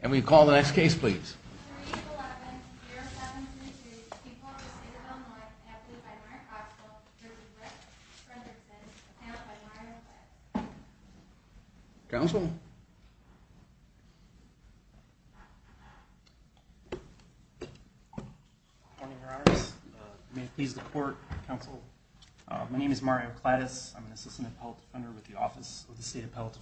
And we call the next case please. Council. Morning, Your Honors, please report. Council. My name is Mario Clatus. I'm an assistant appellate defender with the Office of the State Appellate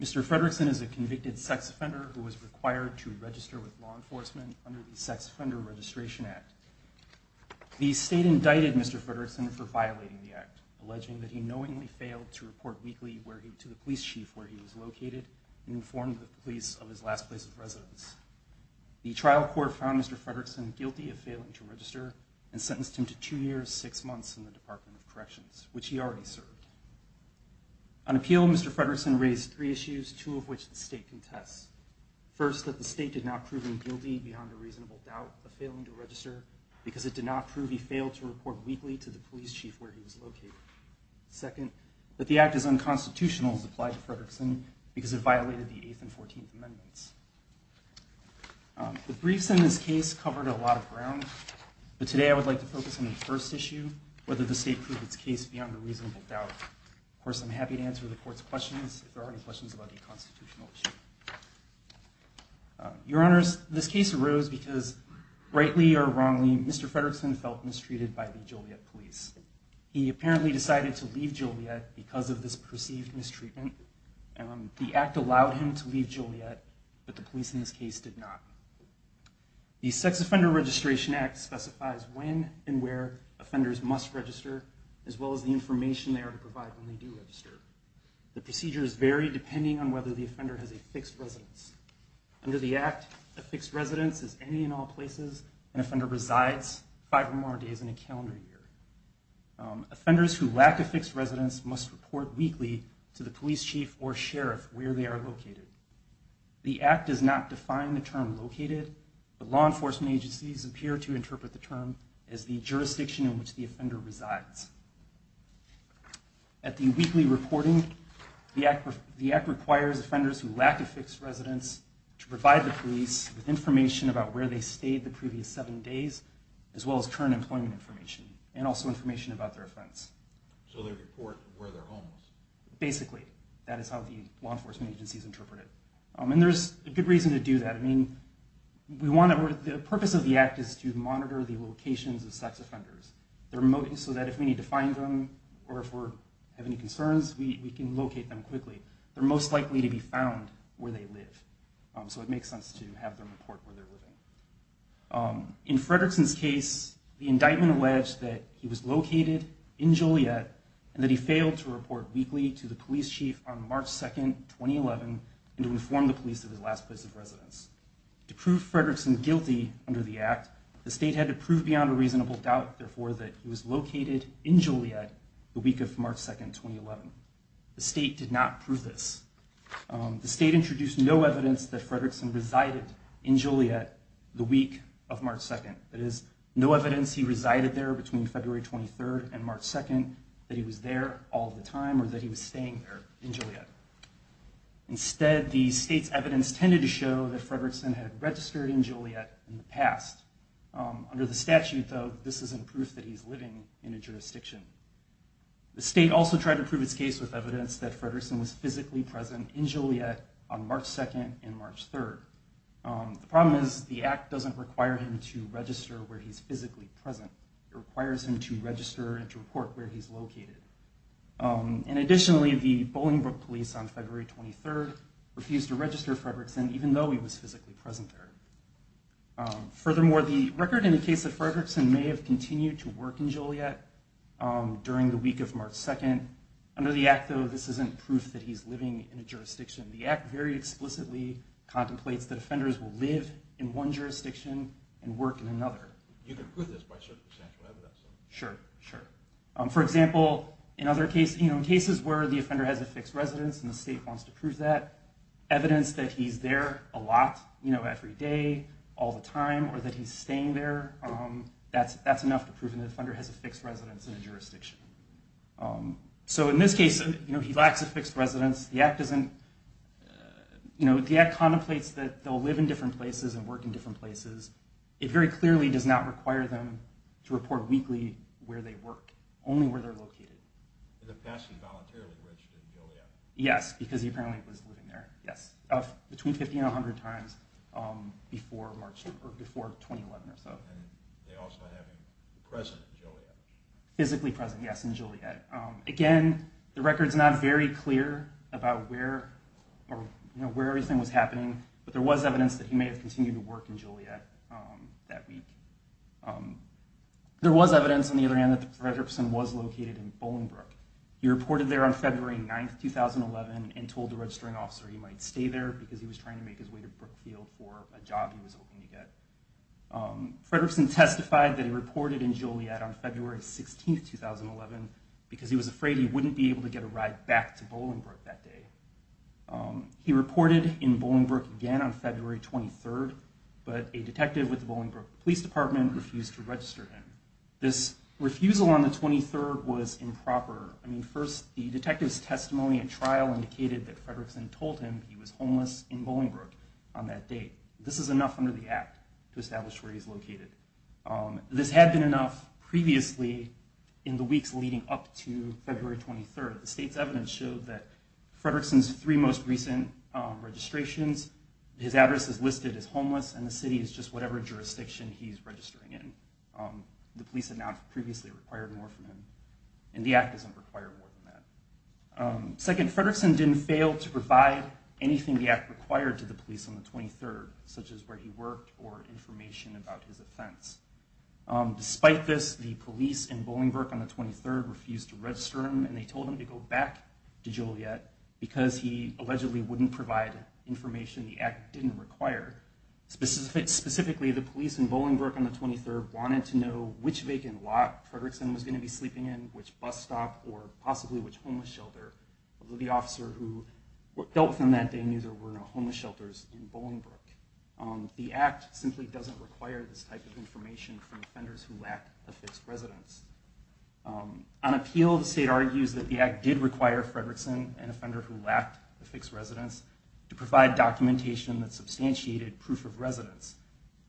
Mr. Frederickson is a convicted sex offender who was required to register with law enforcement under the Sex Offender Registration Act. The state indicted Mr. Frederickson for violating the act, alleging that he knowingly failed to report weekly to the police chief where he was located and informed the police of his last place of residence. The trial court found Mr. Frederickson guilty of failing to register and sentenced him to two years, six months in the Department of Corrections, which he already served. On appeal, Mr. Frederickson raised three issues, two of which the state contests. First, that the state did not prove him guilty beyond a reasonable doubt of failing to register because it did not prove he failed to report weekly to the police chief where he was located. Second, that the act is unconstitutional, as applied to Frederickson, because it violated the Eighth and Fourteenth Amendments. The briefs in this case covered a lot of ground, but today I would like to focus on the first issue, whether the state could prove its case beyond a reasonable doubt. Of course, I'm happy to answer the court's questions, if there are any questions about the constitutional issue. Your Honors, this case arose because, rightly or wrongly, Mr. Frederickson felt mistreated by the Joliet police. He apparently decided to leave Joliet because of this perceived mistreatment. The act allowed him to leave Joliet, but the police in this case did not. The Sex Offender Registration Act specifies when and where offenders must register, as well as the information they are to provide when they do register. The procedures vary depending on whether the offender has a fixed residence. Under the act, a fixed residence is any and all places an offender resides five or more days in a calendar year. Offenders who lack a fixed residence must report weekly to the police chief or sheriff where they are located. The act does not define the term where they are located, but law enforcement agencies appear to interpret the term as the jurisdiction in which the offender resides. At the weekly reporting, the act requires offenders who lack a fixed residence to provide the police with information about where they stayed the previous seven days, as well as current employment information, and also information about their offense. So they report where they're homeless? Basically, that is how the law enforcement agencies interpret it. And there's a good reason to do that. The purpose of the act is to monitor the locations of sex offenders so that if we need to find them, or if we have any concerns, we can locate them quickly. They're most likely to be found where they live. So it makes sense to have them report where they're living. In Fredrickson's case, the indictment alleged that he was located in Joliet, and that he failed to report weekly to the police chief on March 2nd, 2011, and to inform the police of his last place of residence. To prove Fredrickson guilty under the act, the state had to prove beyond a reasonable doubt, therefore, that he was located in Joliet the week of March 2nd, 2011. The state did not prove this. The state introduced no evidence that Fredrickson resided in Joliet the week of March 2nd. That is, no evidence he resided there between February 23rd and March 2nd, that he was there all the time, or that he was staying there in Joliet. Instead, the state's evidence tended to show that Fredrickson had registered in Joliet in the past. Under the statute, though, this isn't proof that he's living in a jurisdiction. The state also tried to prove its case with evidence that Fredrickson was physically present in Joliet on March 2nd and March 3rd. The problem is the act doesn't require him to register where he's physically present. It requires him to report where he's located. Additionally, the Bolingbroke police on February 23rd refused to register Fredrickson even though he was physically present there. Furthermore, the record indicates that Fredrickson may have continued to work in Joliet during the week of March 2nd. Under the act, though, this isn't proof that he's living in a jurisdiction. The act very explicitly contemplates that offenders will live in one jurisdiction and work in another. You can prove this by circumstantial evidence. Sure. For example, in cases where the offender has a fixed residence and the state wants to prove that, evidence that he's there a lot, every day, all the time, or that he's staying there, that's enough to prove the offender has a fixed residence in a jurisdiction. So in this case, he lacks a fixed residence. The act contemplates that they'll live in different places and work in different places. It very clearly does not require them to report weekly where they work, only where they're located. In the past, he voluntarily reached in Joliet. Yes, because he apparently was living there, yes, between 50 and 100 times before 2011 or so. And they also have him present in Joliet. Physically present, yes, in Joliet. Again, the record's not very clear about where everything was happening, but there was evidence that he may have continued to work in Joliet that week. There was evidence, on the other hand, that Frederickson was located in Bolingbrook. He reported there on February 9, 2011, and told the registering officer he might stay there because he was trying to make his way to Brookfield for a job he was hoping to get. Frederickson testified that he reported in Joliet on February 16, 2011, because he was afraid he wouldn't be able to get a ride back to Bolingbrook that day. He reported in Bolingbrook again on February 23, but a detective with the Bolingbrook Police Department refused to register him. This refusal on the 23rd was improper. I mean, first, the detective's testimony at trial indicated that Frederickson told him he was homeless in Bolingbrook on that date. This is enough under the Act to establish where he's located. This had been enough previously in the weeks leading up to February 23. However, the state's evidence showed that Frederickson's three most recent registrations, his address is listed as homeless, and the city is just whatever jurisdiction he's registering in. The police had not previously required more from him, and the Act doesn't require more than that. Second, Frederickson didn't fail to provide anything the Act required to the police on the 23rd, such as where he worked or information about his offense. Despite this, the police in Bolingbrook on the 23rd refused to register him, and they told him to go back to Joliet because he allegedly wouldn't provide information the Act didn't require. Specifically, the police in Bolingbrook on the 23rd wanted to know which vacant lot Frederickson was going to be sleeping in, which bus stop, or possibly which homeless shelter, although the officer who dealt with him that day knew there were no homeless shelters in Bolingbrook. The Act simply doesn't require this type of information from offenders who lack a fixed residence. On appeal, the state argues that the Act did require Frederickson, an offender who lacked a fixed residence, to provide documentation that substantiated proof of residence.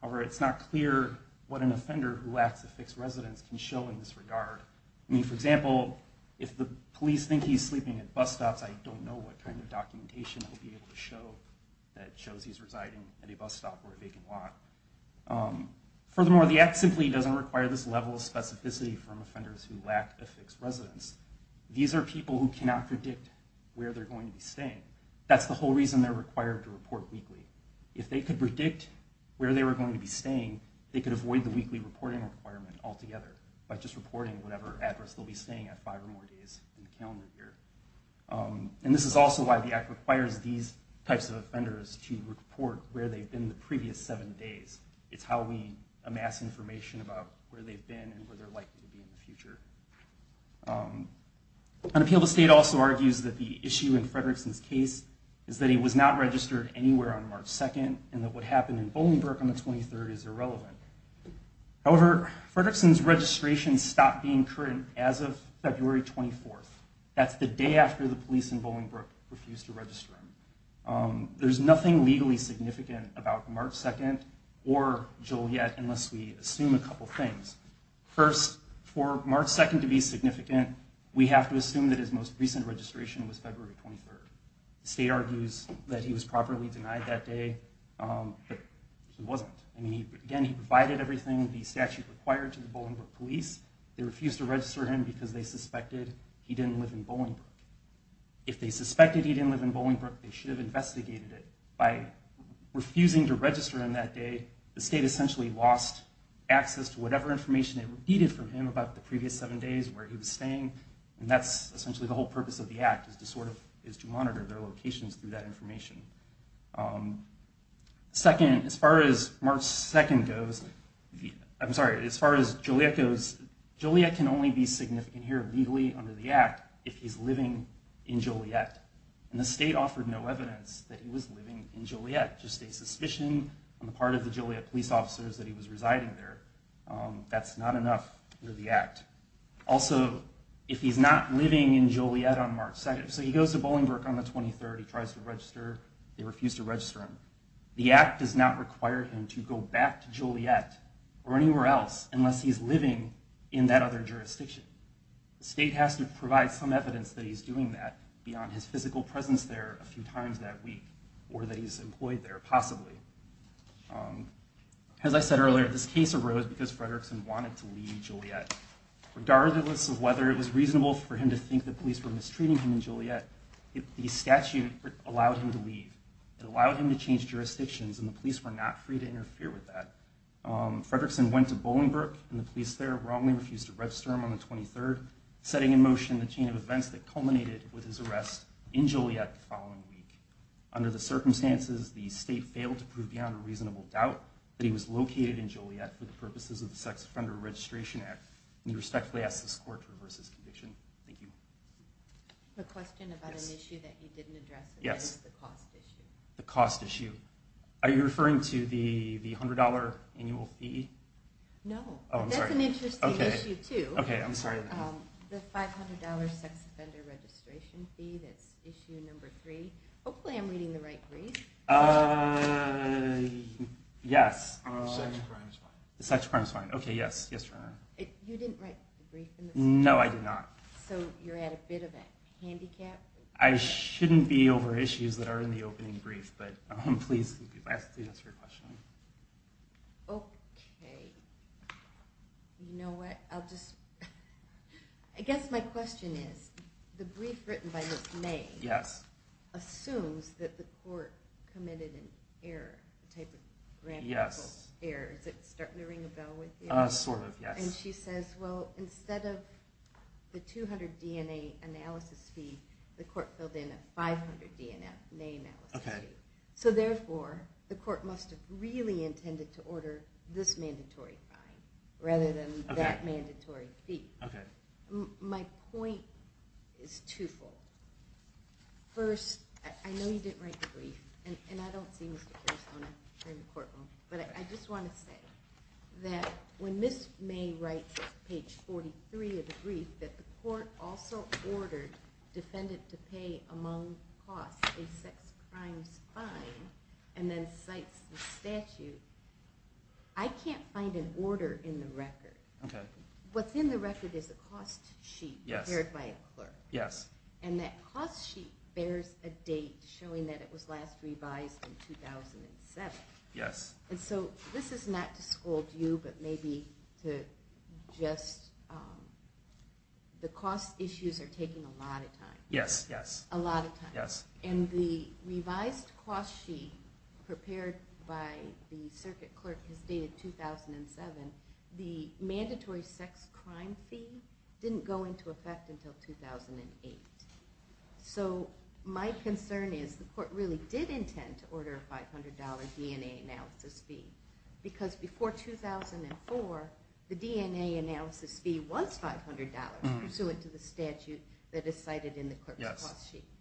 However, it's not clear what an offender who lacks a fixed residence can show in this regard. I mean, for example, if the police think he's sleeping at bus stops, I don't know what kind of documentation I'll be able to show that shows he's residing at a bus stop or a vacant lot. Furthermore, the Act simply doesn't require this level of specificity from offenders who lack a fixed residence. These are people who cannot predict where they're going to be staying. That's the whole reason they're required to report weekly. If they could predict where they were going to be staying, they could avoid the weekly reporting requirement altogether by just reporting whatever address they'll be staying at five or more days in the calendar year. And this is also why the Act requires these types of offenders to report where they've been the previous seven days. It's how we amass information about where they've been and where they're likely to be in the future. Unappealed Estate also argues that the issue in Frederickson's case is that he was not registered anywhere on March 2nd and that what happened in Bolingbrook on the 23rd is irrelevant. However, Frederickson's registration stopped being current as of February 24th. That's the day after the police in Bolingbrook refused to register him. There's nothing legally significant about March 2nd or Joliet unless we assume a couple things. First, for March 2nd to be significant, we have to assume that his most recent registration was February 23rd. The state argues that he was properly denied that day, but he wasn't. Again, he provided everything the statute required to the Bolingbrook police. They refused to register him because they suspected he didn't live in Bolingbrook. If they suspected he didn't live in Bolingbrook, they should have investigated it. By refusing to register him that day, the state essentially lost access to whatever information they needed from him about the previous seven days where he was staying. That's essentially the whole purpose of the Act is to monitor their locations through that information. Second, as far as March 2nd goes, I'm sorry, as far as Joliet goes, Joliet can only be significant here legally under the Act if he's living in Joliet. The state offered no evidence that he was living in Joliet. Just a suspicion on the part of the Joliet police officers that he was residing there. That's not enough under the Act. Also, if he's not living in Joliet on March 2nd, so he goes to Bolingbrook on the 23rd, he tries to register, they refuse to register him. The Act does not require him to go back to Joliet or anywhere else unless he's living in that other jurisdiction. The state has to provide some evidence that he's doing that beyond his physical presence there a few times that week or that he's employed there possibly. As I said earlier, this case arose because Fredrickson wanted to leave Joliet. Regardless of whether it was reasonable for him to think the police were mistreating him in Joliet, the statute allowed him to leave. It allowed him to change jurisdictions and the police were not free to interfere with that. Fredrickson went to Bolingbrook and the police there wrongly refused to register him on the 23rd, setting in motion the chain of events that culminated with his arrest in Joliet the following week. Under the circumstances, the state failed to prove beyond a reasonable doubt that he was located in Joliet for the purposes of the Sex Offender Registration Act. We respectfully ask this court to reverse this conviction. Thank you. A question about an issue that you didn't address. Yes. The cost issue. The cost issue. Are you referring to the $100 annual fee? No. Oh, I'm sorry. That's an interesting issue, too. Okay, I'm sorry. The $500 sex offender registration fee that's issue number three. Hopefully I'm reading the right brief. Yes. The sex crime is fine. The sex crime is fine. Okay, yes. Yes, Your Honor. You didn't write the brief? No, I did not. So you're at a bit of a handicap? I shouldn't be over issues that are in the opening brief, but please, if I have to answer your question. Okay. You know what? I'll just... I guess my question is, the brief written by Ms. May assumes that the court committed an error, a type of grammatical error. Is it starting to ring a bell with you? Sort of, yes. And she says, well, instead of the $200 DNA analysis fee, the court filled in a $500 DNA analysis fee. Okay. So, therefore, the court must have really intended to order this mandatory fine rather than that mandatory fee. Okay. My point is twofold. First, I know you didn't write the brief, and I don't see Mr. Carasone in the courtroom, but I just want to say that when Ms. May writes at page 43 of the brief that the court also ordered defendant to pay among costs a sex crimes fine and then cites the statute, I can't find an order in the record. Okay. What's in the record is a cost sheet prepared by a clerk. Yes. And that cost sheet bears a date showing that it was last revised in 2007. Yes. And so this is not to scold you, but maybe to just the cost issues are taking a lot of time. Yes, yes. A lot of time. Yes. And the revised cost sheet prepared by the circuit clerk is dated 2007. The mandatory sex crime fee didn't go into effect until 2008. So my concern is the court really did intend to order a $500 DNA analysis fee because before 2004 the DNA analysis fee was $500 pursuant to the statute that is cited in the clerk's cost sheet. Yes.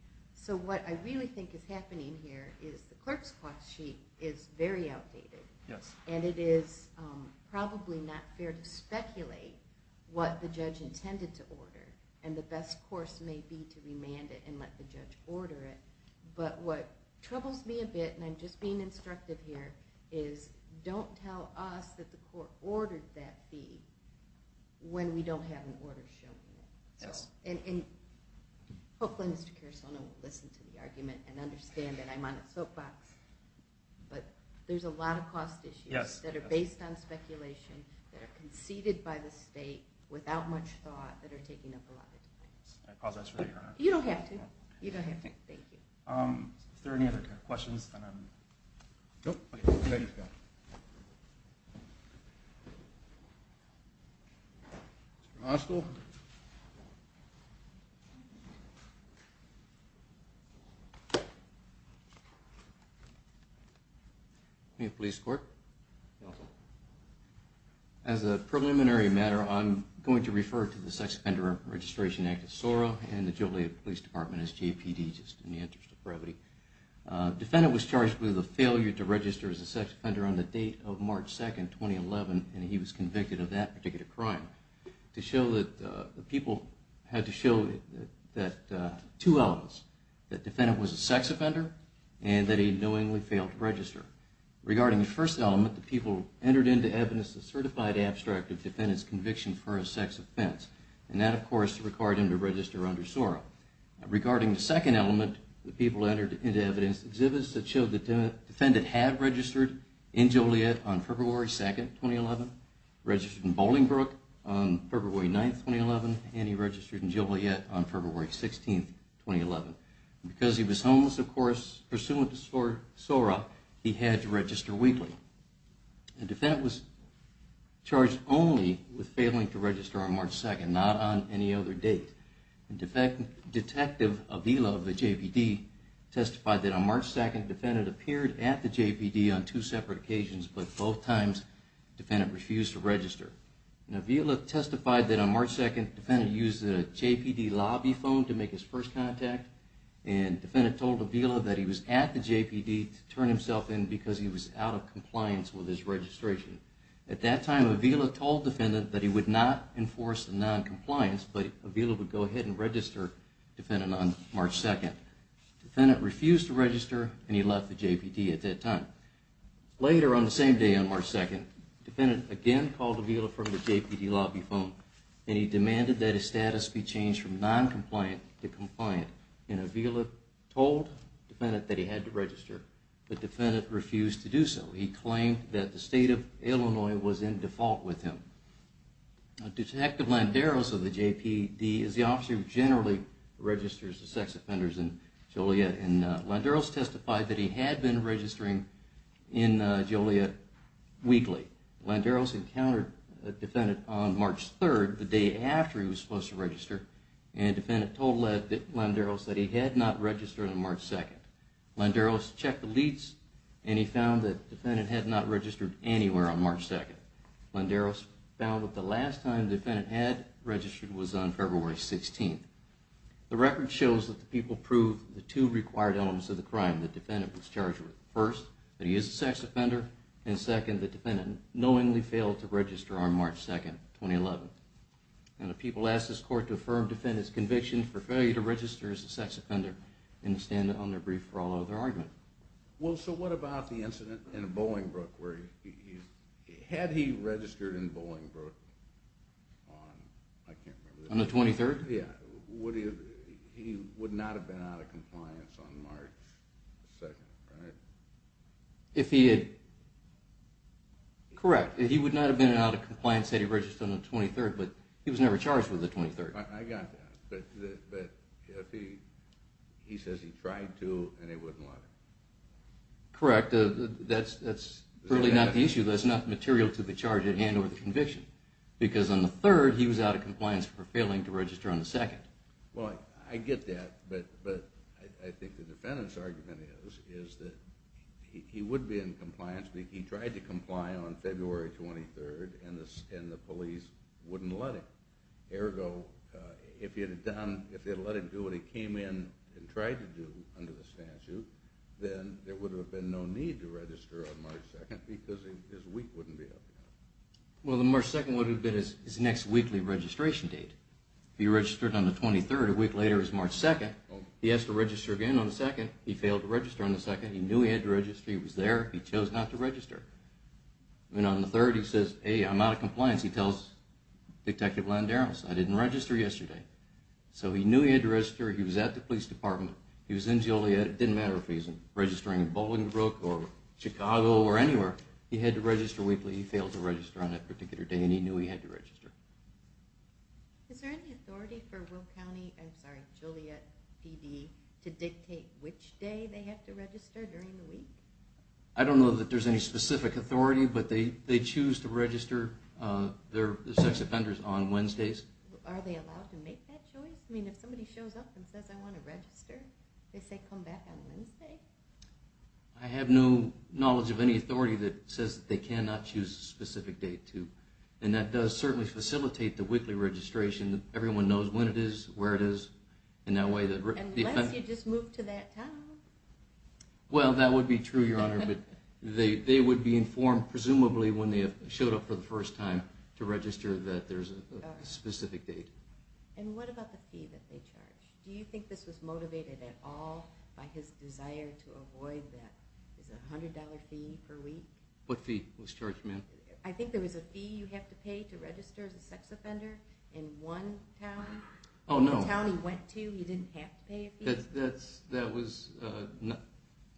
So what I really think is happening here is the clerk's cost sheet is very outdated. Yes. And it is probably not fair to speculate what the judge intended to order, and the best course may be to remand it and let the judge order it. But what troubles me a bit, and I'm just being instructive here, is don't tell us that the court ordered that fee when we don't have an order showing it. Yes. And hopefully Mr. Carasono will listen to the argument and understand that I'm on a soapbox. But there's a lot of cost issues that are based on speculation that are conceded by the state without much thought that are taking up a lot of the time. I apologize for that, Your Honor. You don't have to. You don't have to. Thank you. Is there any other questions? Nope. Okay. Thank you. Mr. Moskow. Police Court. You're welcome. As a preliminary matter, I'm going to refer to the Sex Offender Registration Act of SORA and the Joliet Police Department as JPD, just in the interest of brevity. A defendant was charged with a failure to register as a sex offender on the date of March 2, 2011, and he was convicted of that particular crime. The people had to show two elements, that the defendant was a sex offender and that he knowingly failed to register. Regarding the first element, the people entered into evidence a certified abstract of the defendant's conviction for a sex offense, and that, of course, required him to register under SORA. Regarding the second element, the people entered into evidence exhibits that showed the defendant had registered in Joliet on February 2, 2011, registered in Bolingbrook on February 9, 2011, and he registered in Joliet on February 16, 2011. Because he was homeless, of course, pursuant to SORA, he had to register weekly. The defendant was charged only with failing to register on March 2, not on any other date. Detective Avila of the JPD testified that on March 2, the defendant appeared at the JPD on two separate occasions, but both times the defendant refused to register. Avila testified that on March 2, the defendant used a JPD lobby phone to make his first contact, and the defendant told Avila that he was at the JPD to turn himself in because he was out of compliance with his registration. At that time, Avila told the defendant that he would not enforce the noncompliance, but Avila would go ahead and register the defendant on March 2. The defendant refused to register, and he left the JPD at that time. Later, on the same day on March 2, the defendant again called Avila from the JPD lobby phone, and he demanded that his status be changed from noncompliant to compliant, and Avila told the defendant that he had to register, but the defendant refused to do so. He claimed that the state of Illinois was in default with him. Detective Landeros of the JPD is the officer who generally registers the sex offenders in Joliet, and Landeros testified that he had been registering in Joliet weekly. Landeros encountered the defendant on March 3, the day after he was supposed to register, and the defendant told Landeros that he had not registered on March 2. Landeros checked the leads, and he found that the defendant had not registered anywhere on March 2. Landeros found that the last time the defendant had registered was on February 16. The record shows that the people proved the two required elements of the crime the defendant was charged with. First, that he is a sex offender, and second, that the defendant knowingly failed to register on March 2, 2011. The people asked this court to affirm the defendant's conviction for failure to register as a sex offender, and to stand on their brief for all other argument. Well, so what about the incident in Bolingbroke? Had he registered in Bolingbroke on... On the 23rd? Yeah. He would not have been out of compliance on March 2, right? If he had... Correct. He would not have been out of compliance had he registered on the 23rd, but he was never charged with the 23rd. I got that. But if he... He says he tried to, and he wouldn't let him. Correct. That's really not the issue. That's not material to the charge at hand or the conviction, because on the 3rd, he was out of compliance for failing to register on the 2nd. Well, I get that, but I think the defendant's argument is that he would be in compliance. He tried to comply on February 23rd, and the police wouldn't let him. Ergo, if he had let him do what he came in and tried to do under the statute, then there would have been no need to register on March 2, because his week wouldn't be up yet. Well, the March 2 would have been his next weekly registration date. If he registered on the 23rd, a week later is March 2. He has to register again on the 2nd. He knew he had to register. He was there. He chose not to register. And on the 3rd, he says, hey, I'm out of compliance. He tells Detective Landeros, I didn't register yesterday. So he knew he had to register. He was at the police department. He was in Joliet. It didn't matter if he was registering in Bolingbrook or Chicago or anywhere. He had to register weekly. He failed to register on that particular day, and he knew he had to register. Is there any authority for Will County... I don't know that there's any specific authority, but they choose to register their sex offenders on Wednesdays. Are they allowed to make that choice? I mean, if somebody shows up and says, I want to register, they say, come back on Wednesday? I have no knowledge of any authority that says they cannot choose a specific date. And that does certainly facilitate the weekly registration. Everyone knows when it is, where it is. Unless you just move to that town. Well, that would be true, Your Honor, but they would be informed presumably when they showed up for the first time to register that there's a specific date. And what about the fee that they charge? Do you think this was motivated at all by his desire to avoid that $100 fee per week? What fee was charged, ma'am? I think there was a fee you have to pay to register as a sex offender in one town. Oh, no. The town he went to, he didn't have to pay a fee.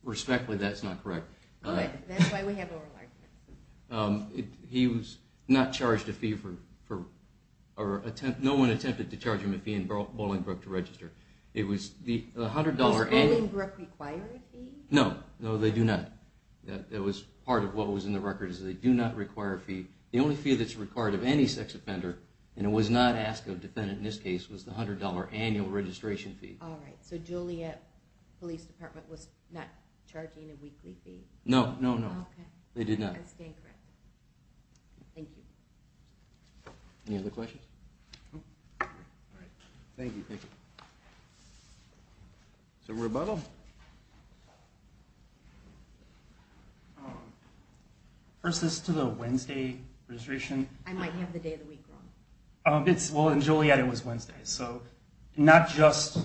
Respectfully, that's not correct. That's why we have oral arguments. He was not charged a fee. No one attempted to charge him a fee in Bolingbrook to register. Does Bolingbrook require a fee? No, no, they do not. That was part of what was in the record, is they do not require a fee. The only fee that's required of any sex offender, and it was not asked of a defendant in this case, was the $100 annual registration fee. All right. So Joliet Police Department was not charging a weekly fee? No, no, no. Okay. They did not. That's incorrect. Thank you. Any other questions? All right. Thank you. Thank you. Is there a rebuttal? Versus to the Wednesday registration? I might have the day of the week wrong. Well, in Joliet it was Wednesday. So not just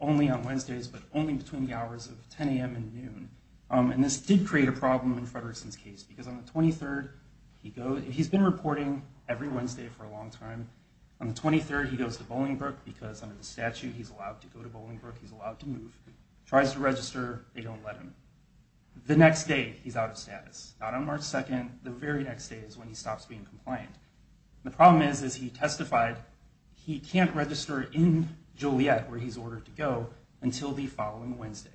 only on Wednesdays, but only between the hours of 10 a.m. and noon. And this did create a problem in Fredrickson's case, because on the 23rd he goes. He's been reporting every Wednesday for a long time. On the 23rd he goes to Bolingbrook, because under the statute he's allowed to go to Bolingbrook, he's allowed to move. Tries to register, they don't let him. The next day he's out of status. Not on March 2nd. The very next day is when he stops being compliant. The problem is, as he testified, he can't register in Joliet, where he's ordered to go, until the following Wednesday.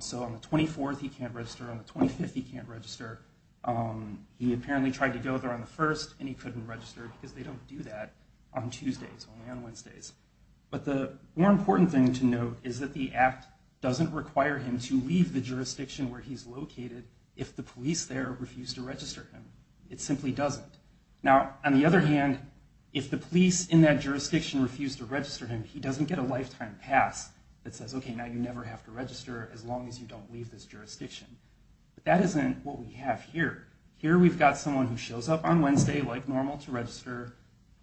So on the 24th he can't register. On the 25th he can't register. He apparently tried to go there on the 1st, and he couldn't register, because they don't do that on Tuesdays, only on Wednesdays. But the more important thing to note is that the act doesn't require him to leave the jurisdiction where he's located if the police there refuse to register him. It simply doesn't. Now, on the other hand, if the police in that jurisdiction refuse to register him, he doesn't get a lifetime pass that says, okay, now you never have to register, as long as you don't leave this jurisdiction. But that isn't what we have here. Here we've got someone who shows up on Wednesday, like normal, to register.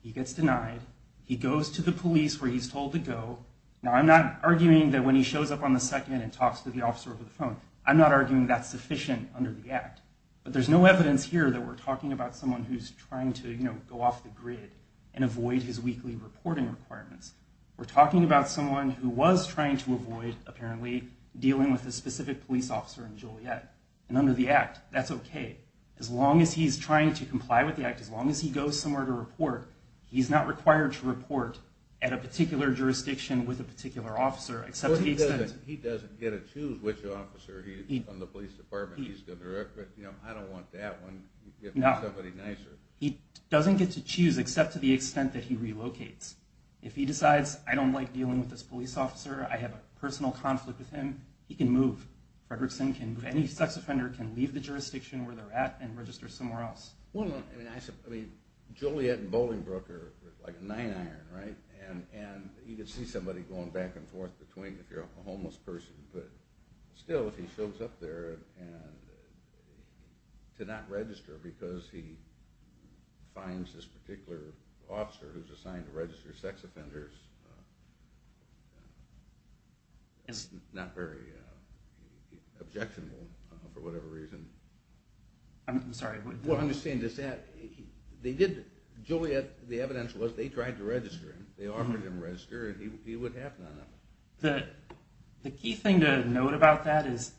He gets denied. He goes to the police where he's told to go. Now, I'm not arguing that when he shows up on the 2nd and talks to the officer over the phone, I'm not arguing that's sufficient under the act. But there's no evidence here that we're talking about someone who's trying to, you know, go off the grid and avoid his weekly reporting requirements. We're talking about someone who was trying to avoid, apparently, dealing with a specific police officer in Joliet. And under the act, that's okay. As long as he's trying to comply with the act, as long as he goes somewhere to report, he's not required to report at a particular jurisdiction with a particular officer, except to the extent that he doesn't. He doesn't get to choose which officer on the police department he's going to report. You know, I don't want that one. You can get me somebody nicer. He doesn't get to choose, except to the extent that he relocates. If he decides, I don't like dealing with this police officer, I have a personal conflict with him, he can move. Fredrickson can move. Any sex offender can leave the jurisdiction where they're at and register somewhere else. Well, I mean, Joliet and Bolingbroke are like a nine iron, right? And you can see somebody going back and forth between if you're a homeless person. Still, if he shows up there to not register because he finds this particular officer who's assigned to register sex offenders, it's not very objectionable for whatever reason. I'm sorry. What I'm saying is that they did, Joliet, the evidence was they tried to register him. They offered him to register and he would have none of it. The key thing to note about that is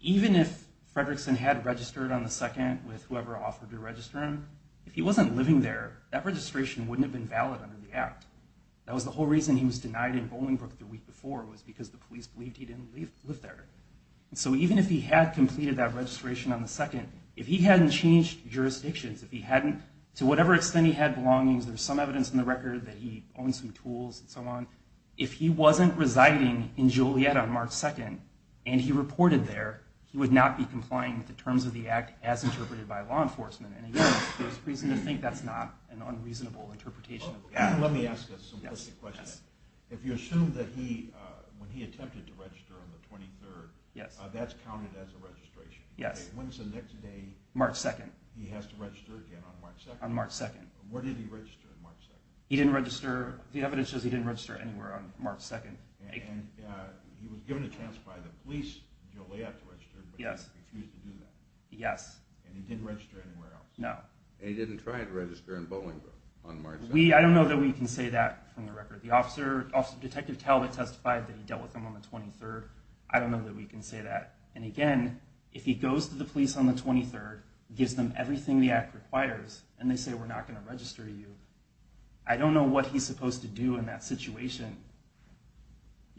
even if Fredrickson had registered on the second with whoever offered to register him, if he wasn't living there, that registration wouldn't have been valid under the act. That was the whole reason he was denied in Bolingbroke the week before, was because the police believed he didn't live there. So even if he had completed that registration on the second, if he hadn't changed jurisdictions, if he hadn't, to whatever extent he had belongings, there's some evidence in the record that he owned some tools and so on, if he wasn't residing in Joliet on March 2nd, and he reported there, he would not be complying with the terms of the act as interpreted by law enforcement. And again, there's reason to think that's not an unreasonable interpretation. Let me ask a question. If you assume that when he attempted to register on the 23rd, that's counted as a registration. When's the next day? March 2nd. He has to register again on March 2nd? On March 2nd. Where did he register on March 2nd? He didn't register. The evidence says he didn't register anywhere on March 2nd. And he was given a chance by the police in Joliet to register, but he refused to do that? Yes. And he didn't register anywhere else? No. And he didn't try to register in Bolingbroke on March 2nd? I don't know that we can say that from the record. Detective Talbot testified that he dealt with him on the 23rd. I don't know that we can say that. And again, if he goes to the police on the 23rd, gives them everything the act requires, and they say we're not going to register you, I don't know what he's supposed to do in that situation.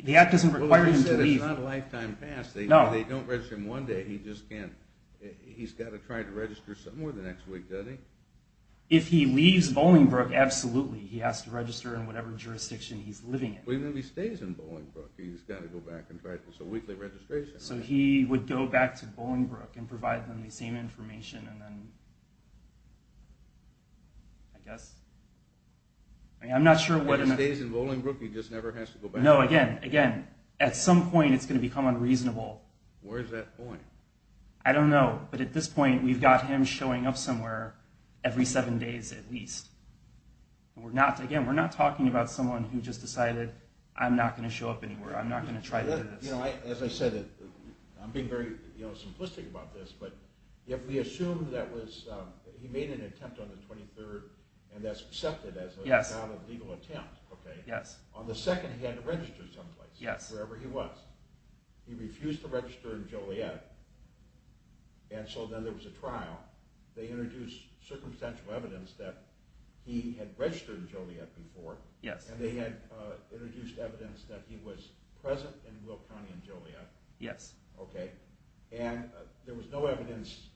The act doesn't require him to leave. Well, they said it's not a lifetime pass. No. They don't register him one day. He just can't. He's got to try to register somewhere the next week, doesn't he? If he leaves Bolingbroke, absolutely. He has to register in whatever jurisdiction he's living in. But even if he stays in Bolingbroke, he's got to go back and try. It's a weekly registration. So he would go back to Bolingbroke and provide them the same information and then I guess. I'm not sure what. If he stays in Bolingbroke, he just never has to go back. No, again, again, at some point it's going to become unreasonable. Where's that point? I don't know. But at this point, we've got him showing up somewhere every seven days at least. Again, we're not talking about someone who just decided, I'm not going to show up anywhere. I'm not going to try to do this. As I said, I'm being very simplistic about this, but if we assume that he made an attempt on the 23rd and that's accepted as not a legal attempt. On the second, he had to register someplace, wherever he was. He refused to register in Joliet, and so then there was a trial. They introduced circumstantial evidence that he had registered in Joliet before, and they had introduced evidence that he was present in Will County in Joliet. Yes. Okay. And there was no evidence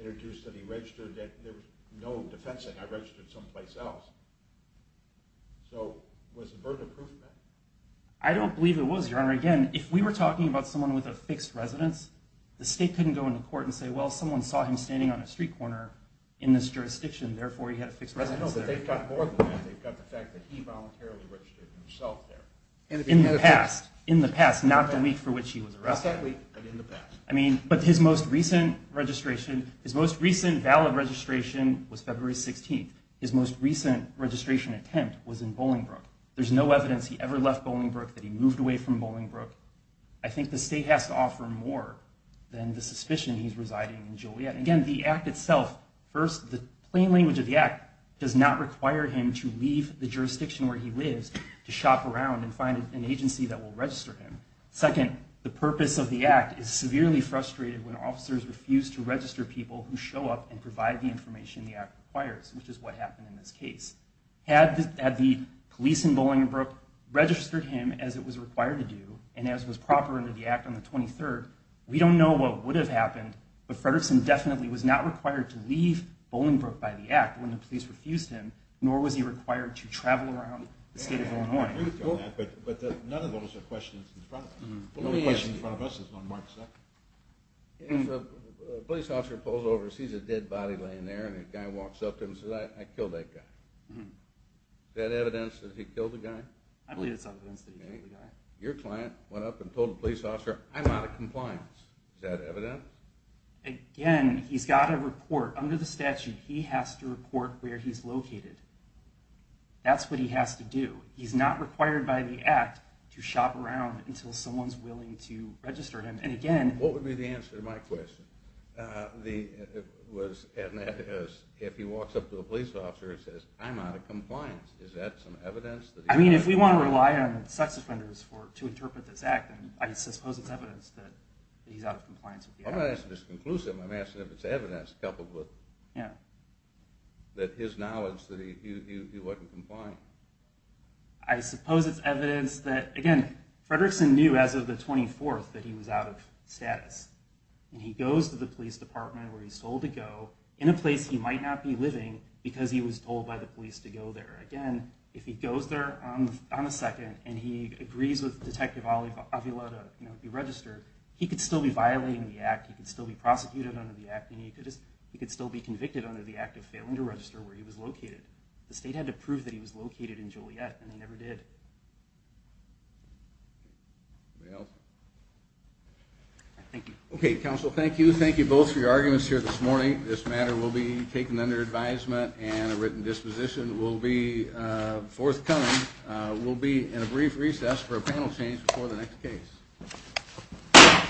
introduced that he registered. There was no defense that he registered someplace else. So was the burden of proof met? I don't believe it was, Your Honor. Again, if we were talking about someone with a fixed residence, the state couldn't go into court and say, well, someone saw him standing on a street corner in this jurisdiction, therefore he had a fixed residence there. I know, but they've got more than that. They've got the fact that he voluntarily registered himself there. In the past. In the past, not the week for which he was arrested. Exactly, but in the past. I mean, but his most recent registration, his most recent valid registration was February 16th. His most recent registration attempt was in Bolingbrook. There's no evidence he ever left Bolingbrook, that he moved away from Bolingbrook. I think the state has to offer more than the suspicion he's residing in Joliet. Again, the Act itself, first, the plain language of the Act does not require him to leave the jurisdiction where he lives to shop around and find an agency that will register him. Second, the purpose of the Act is severely frustrated when officers refuse to register people who show up and provide the information the Act requires, which is what happened in this case. Had the police in Bolingbrook registered him as it was required to do, and as was proper under the Act on the 23rd, we don't know what would have happened, but Frederickson definitely was not required to leave Bolingbrook by the Act when the police refused him, nor was he required to travel around the state of Illinois. I agree with you on that, but none of those are questions in front of us. The only question in front of us is on March 2nd. If a police officer pulls over and sees a dead body laying there and a guy walks up to him and says, I killed that guy. Is that evidence that he killed the guy? I believe it's evidence that he killed the guy. Your client went up and told the police officer, I'm out of compliance. Is that evidence? Again, he's got a report. Under the statute, he has to report where he's located. That's what he has to do. He's not required by the Act to shop around until someone's willing to register him. What would be the answer to my question? If he walks up to a police officer and says, I'm out of compliance, is that some evidence that he killed the guy? If we want to rely on sex offenders to interpret this Act, I suppose it's evidence that he's out of compliance with the Act. I'm not asking if it's conclusive. I'm asking if it's evidence coupled with his knowledge that he wasn't compliant. I suppose it's evidence that, again, Fredrickson knew as of the 24th that he was out of status. He goes to the police department where he's told to go, in a place he might not be living because he was told by the police to go there. Again, if he goes there on the 2nd and he agrees with Detective Avila to be registered, he could still be violating the Act. He could still be prosecuted under the Act, and he could still be convicted under the Act of failing to register where he was located. The state had to prove that he was located in Joliet, and they never did. Anybody else? Thank you. Okay, counsel, thank you. Thank you both for your arguments here this morning. This matter will be taken under advisement and a written disposition. It will be forthcoming. We'll be in a brief recess for a panel change before the next case.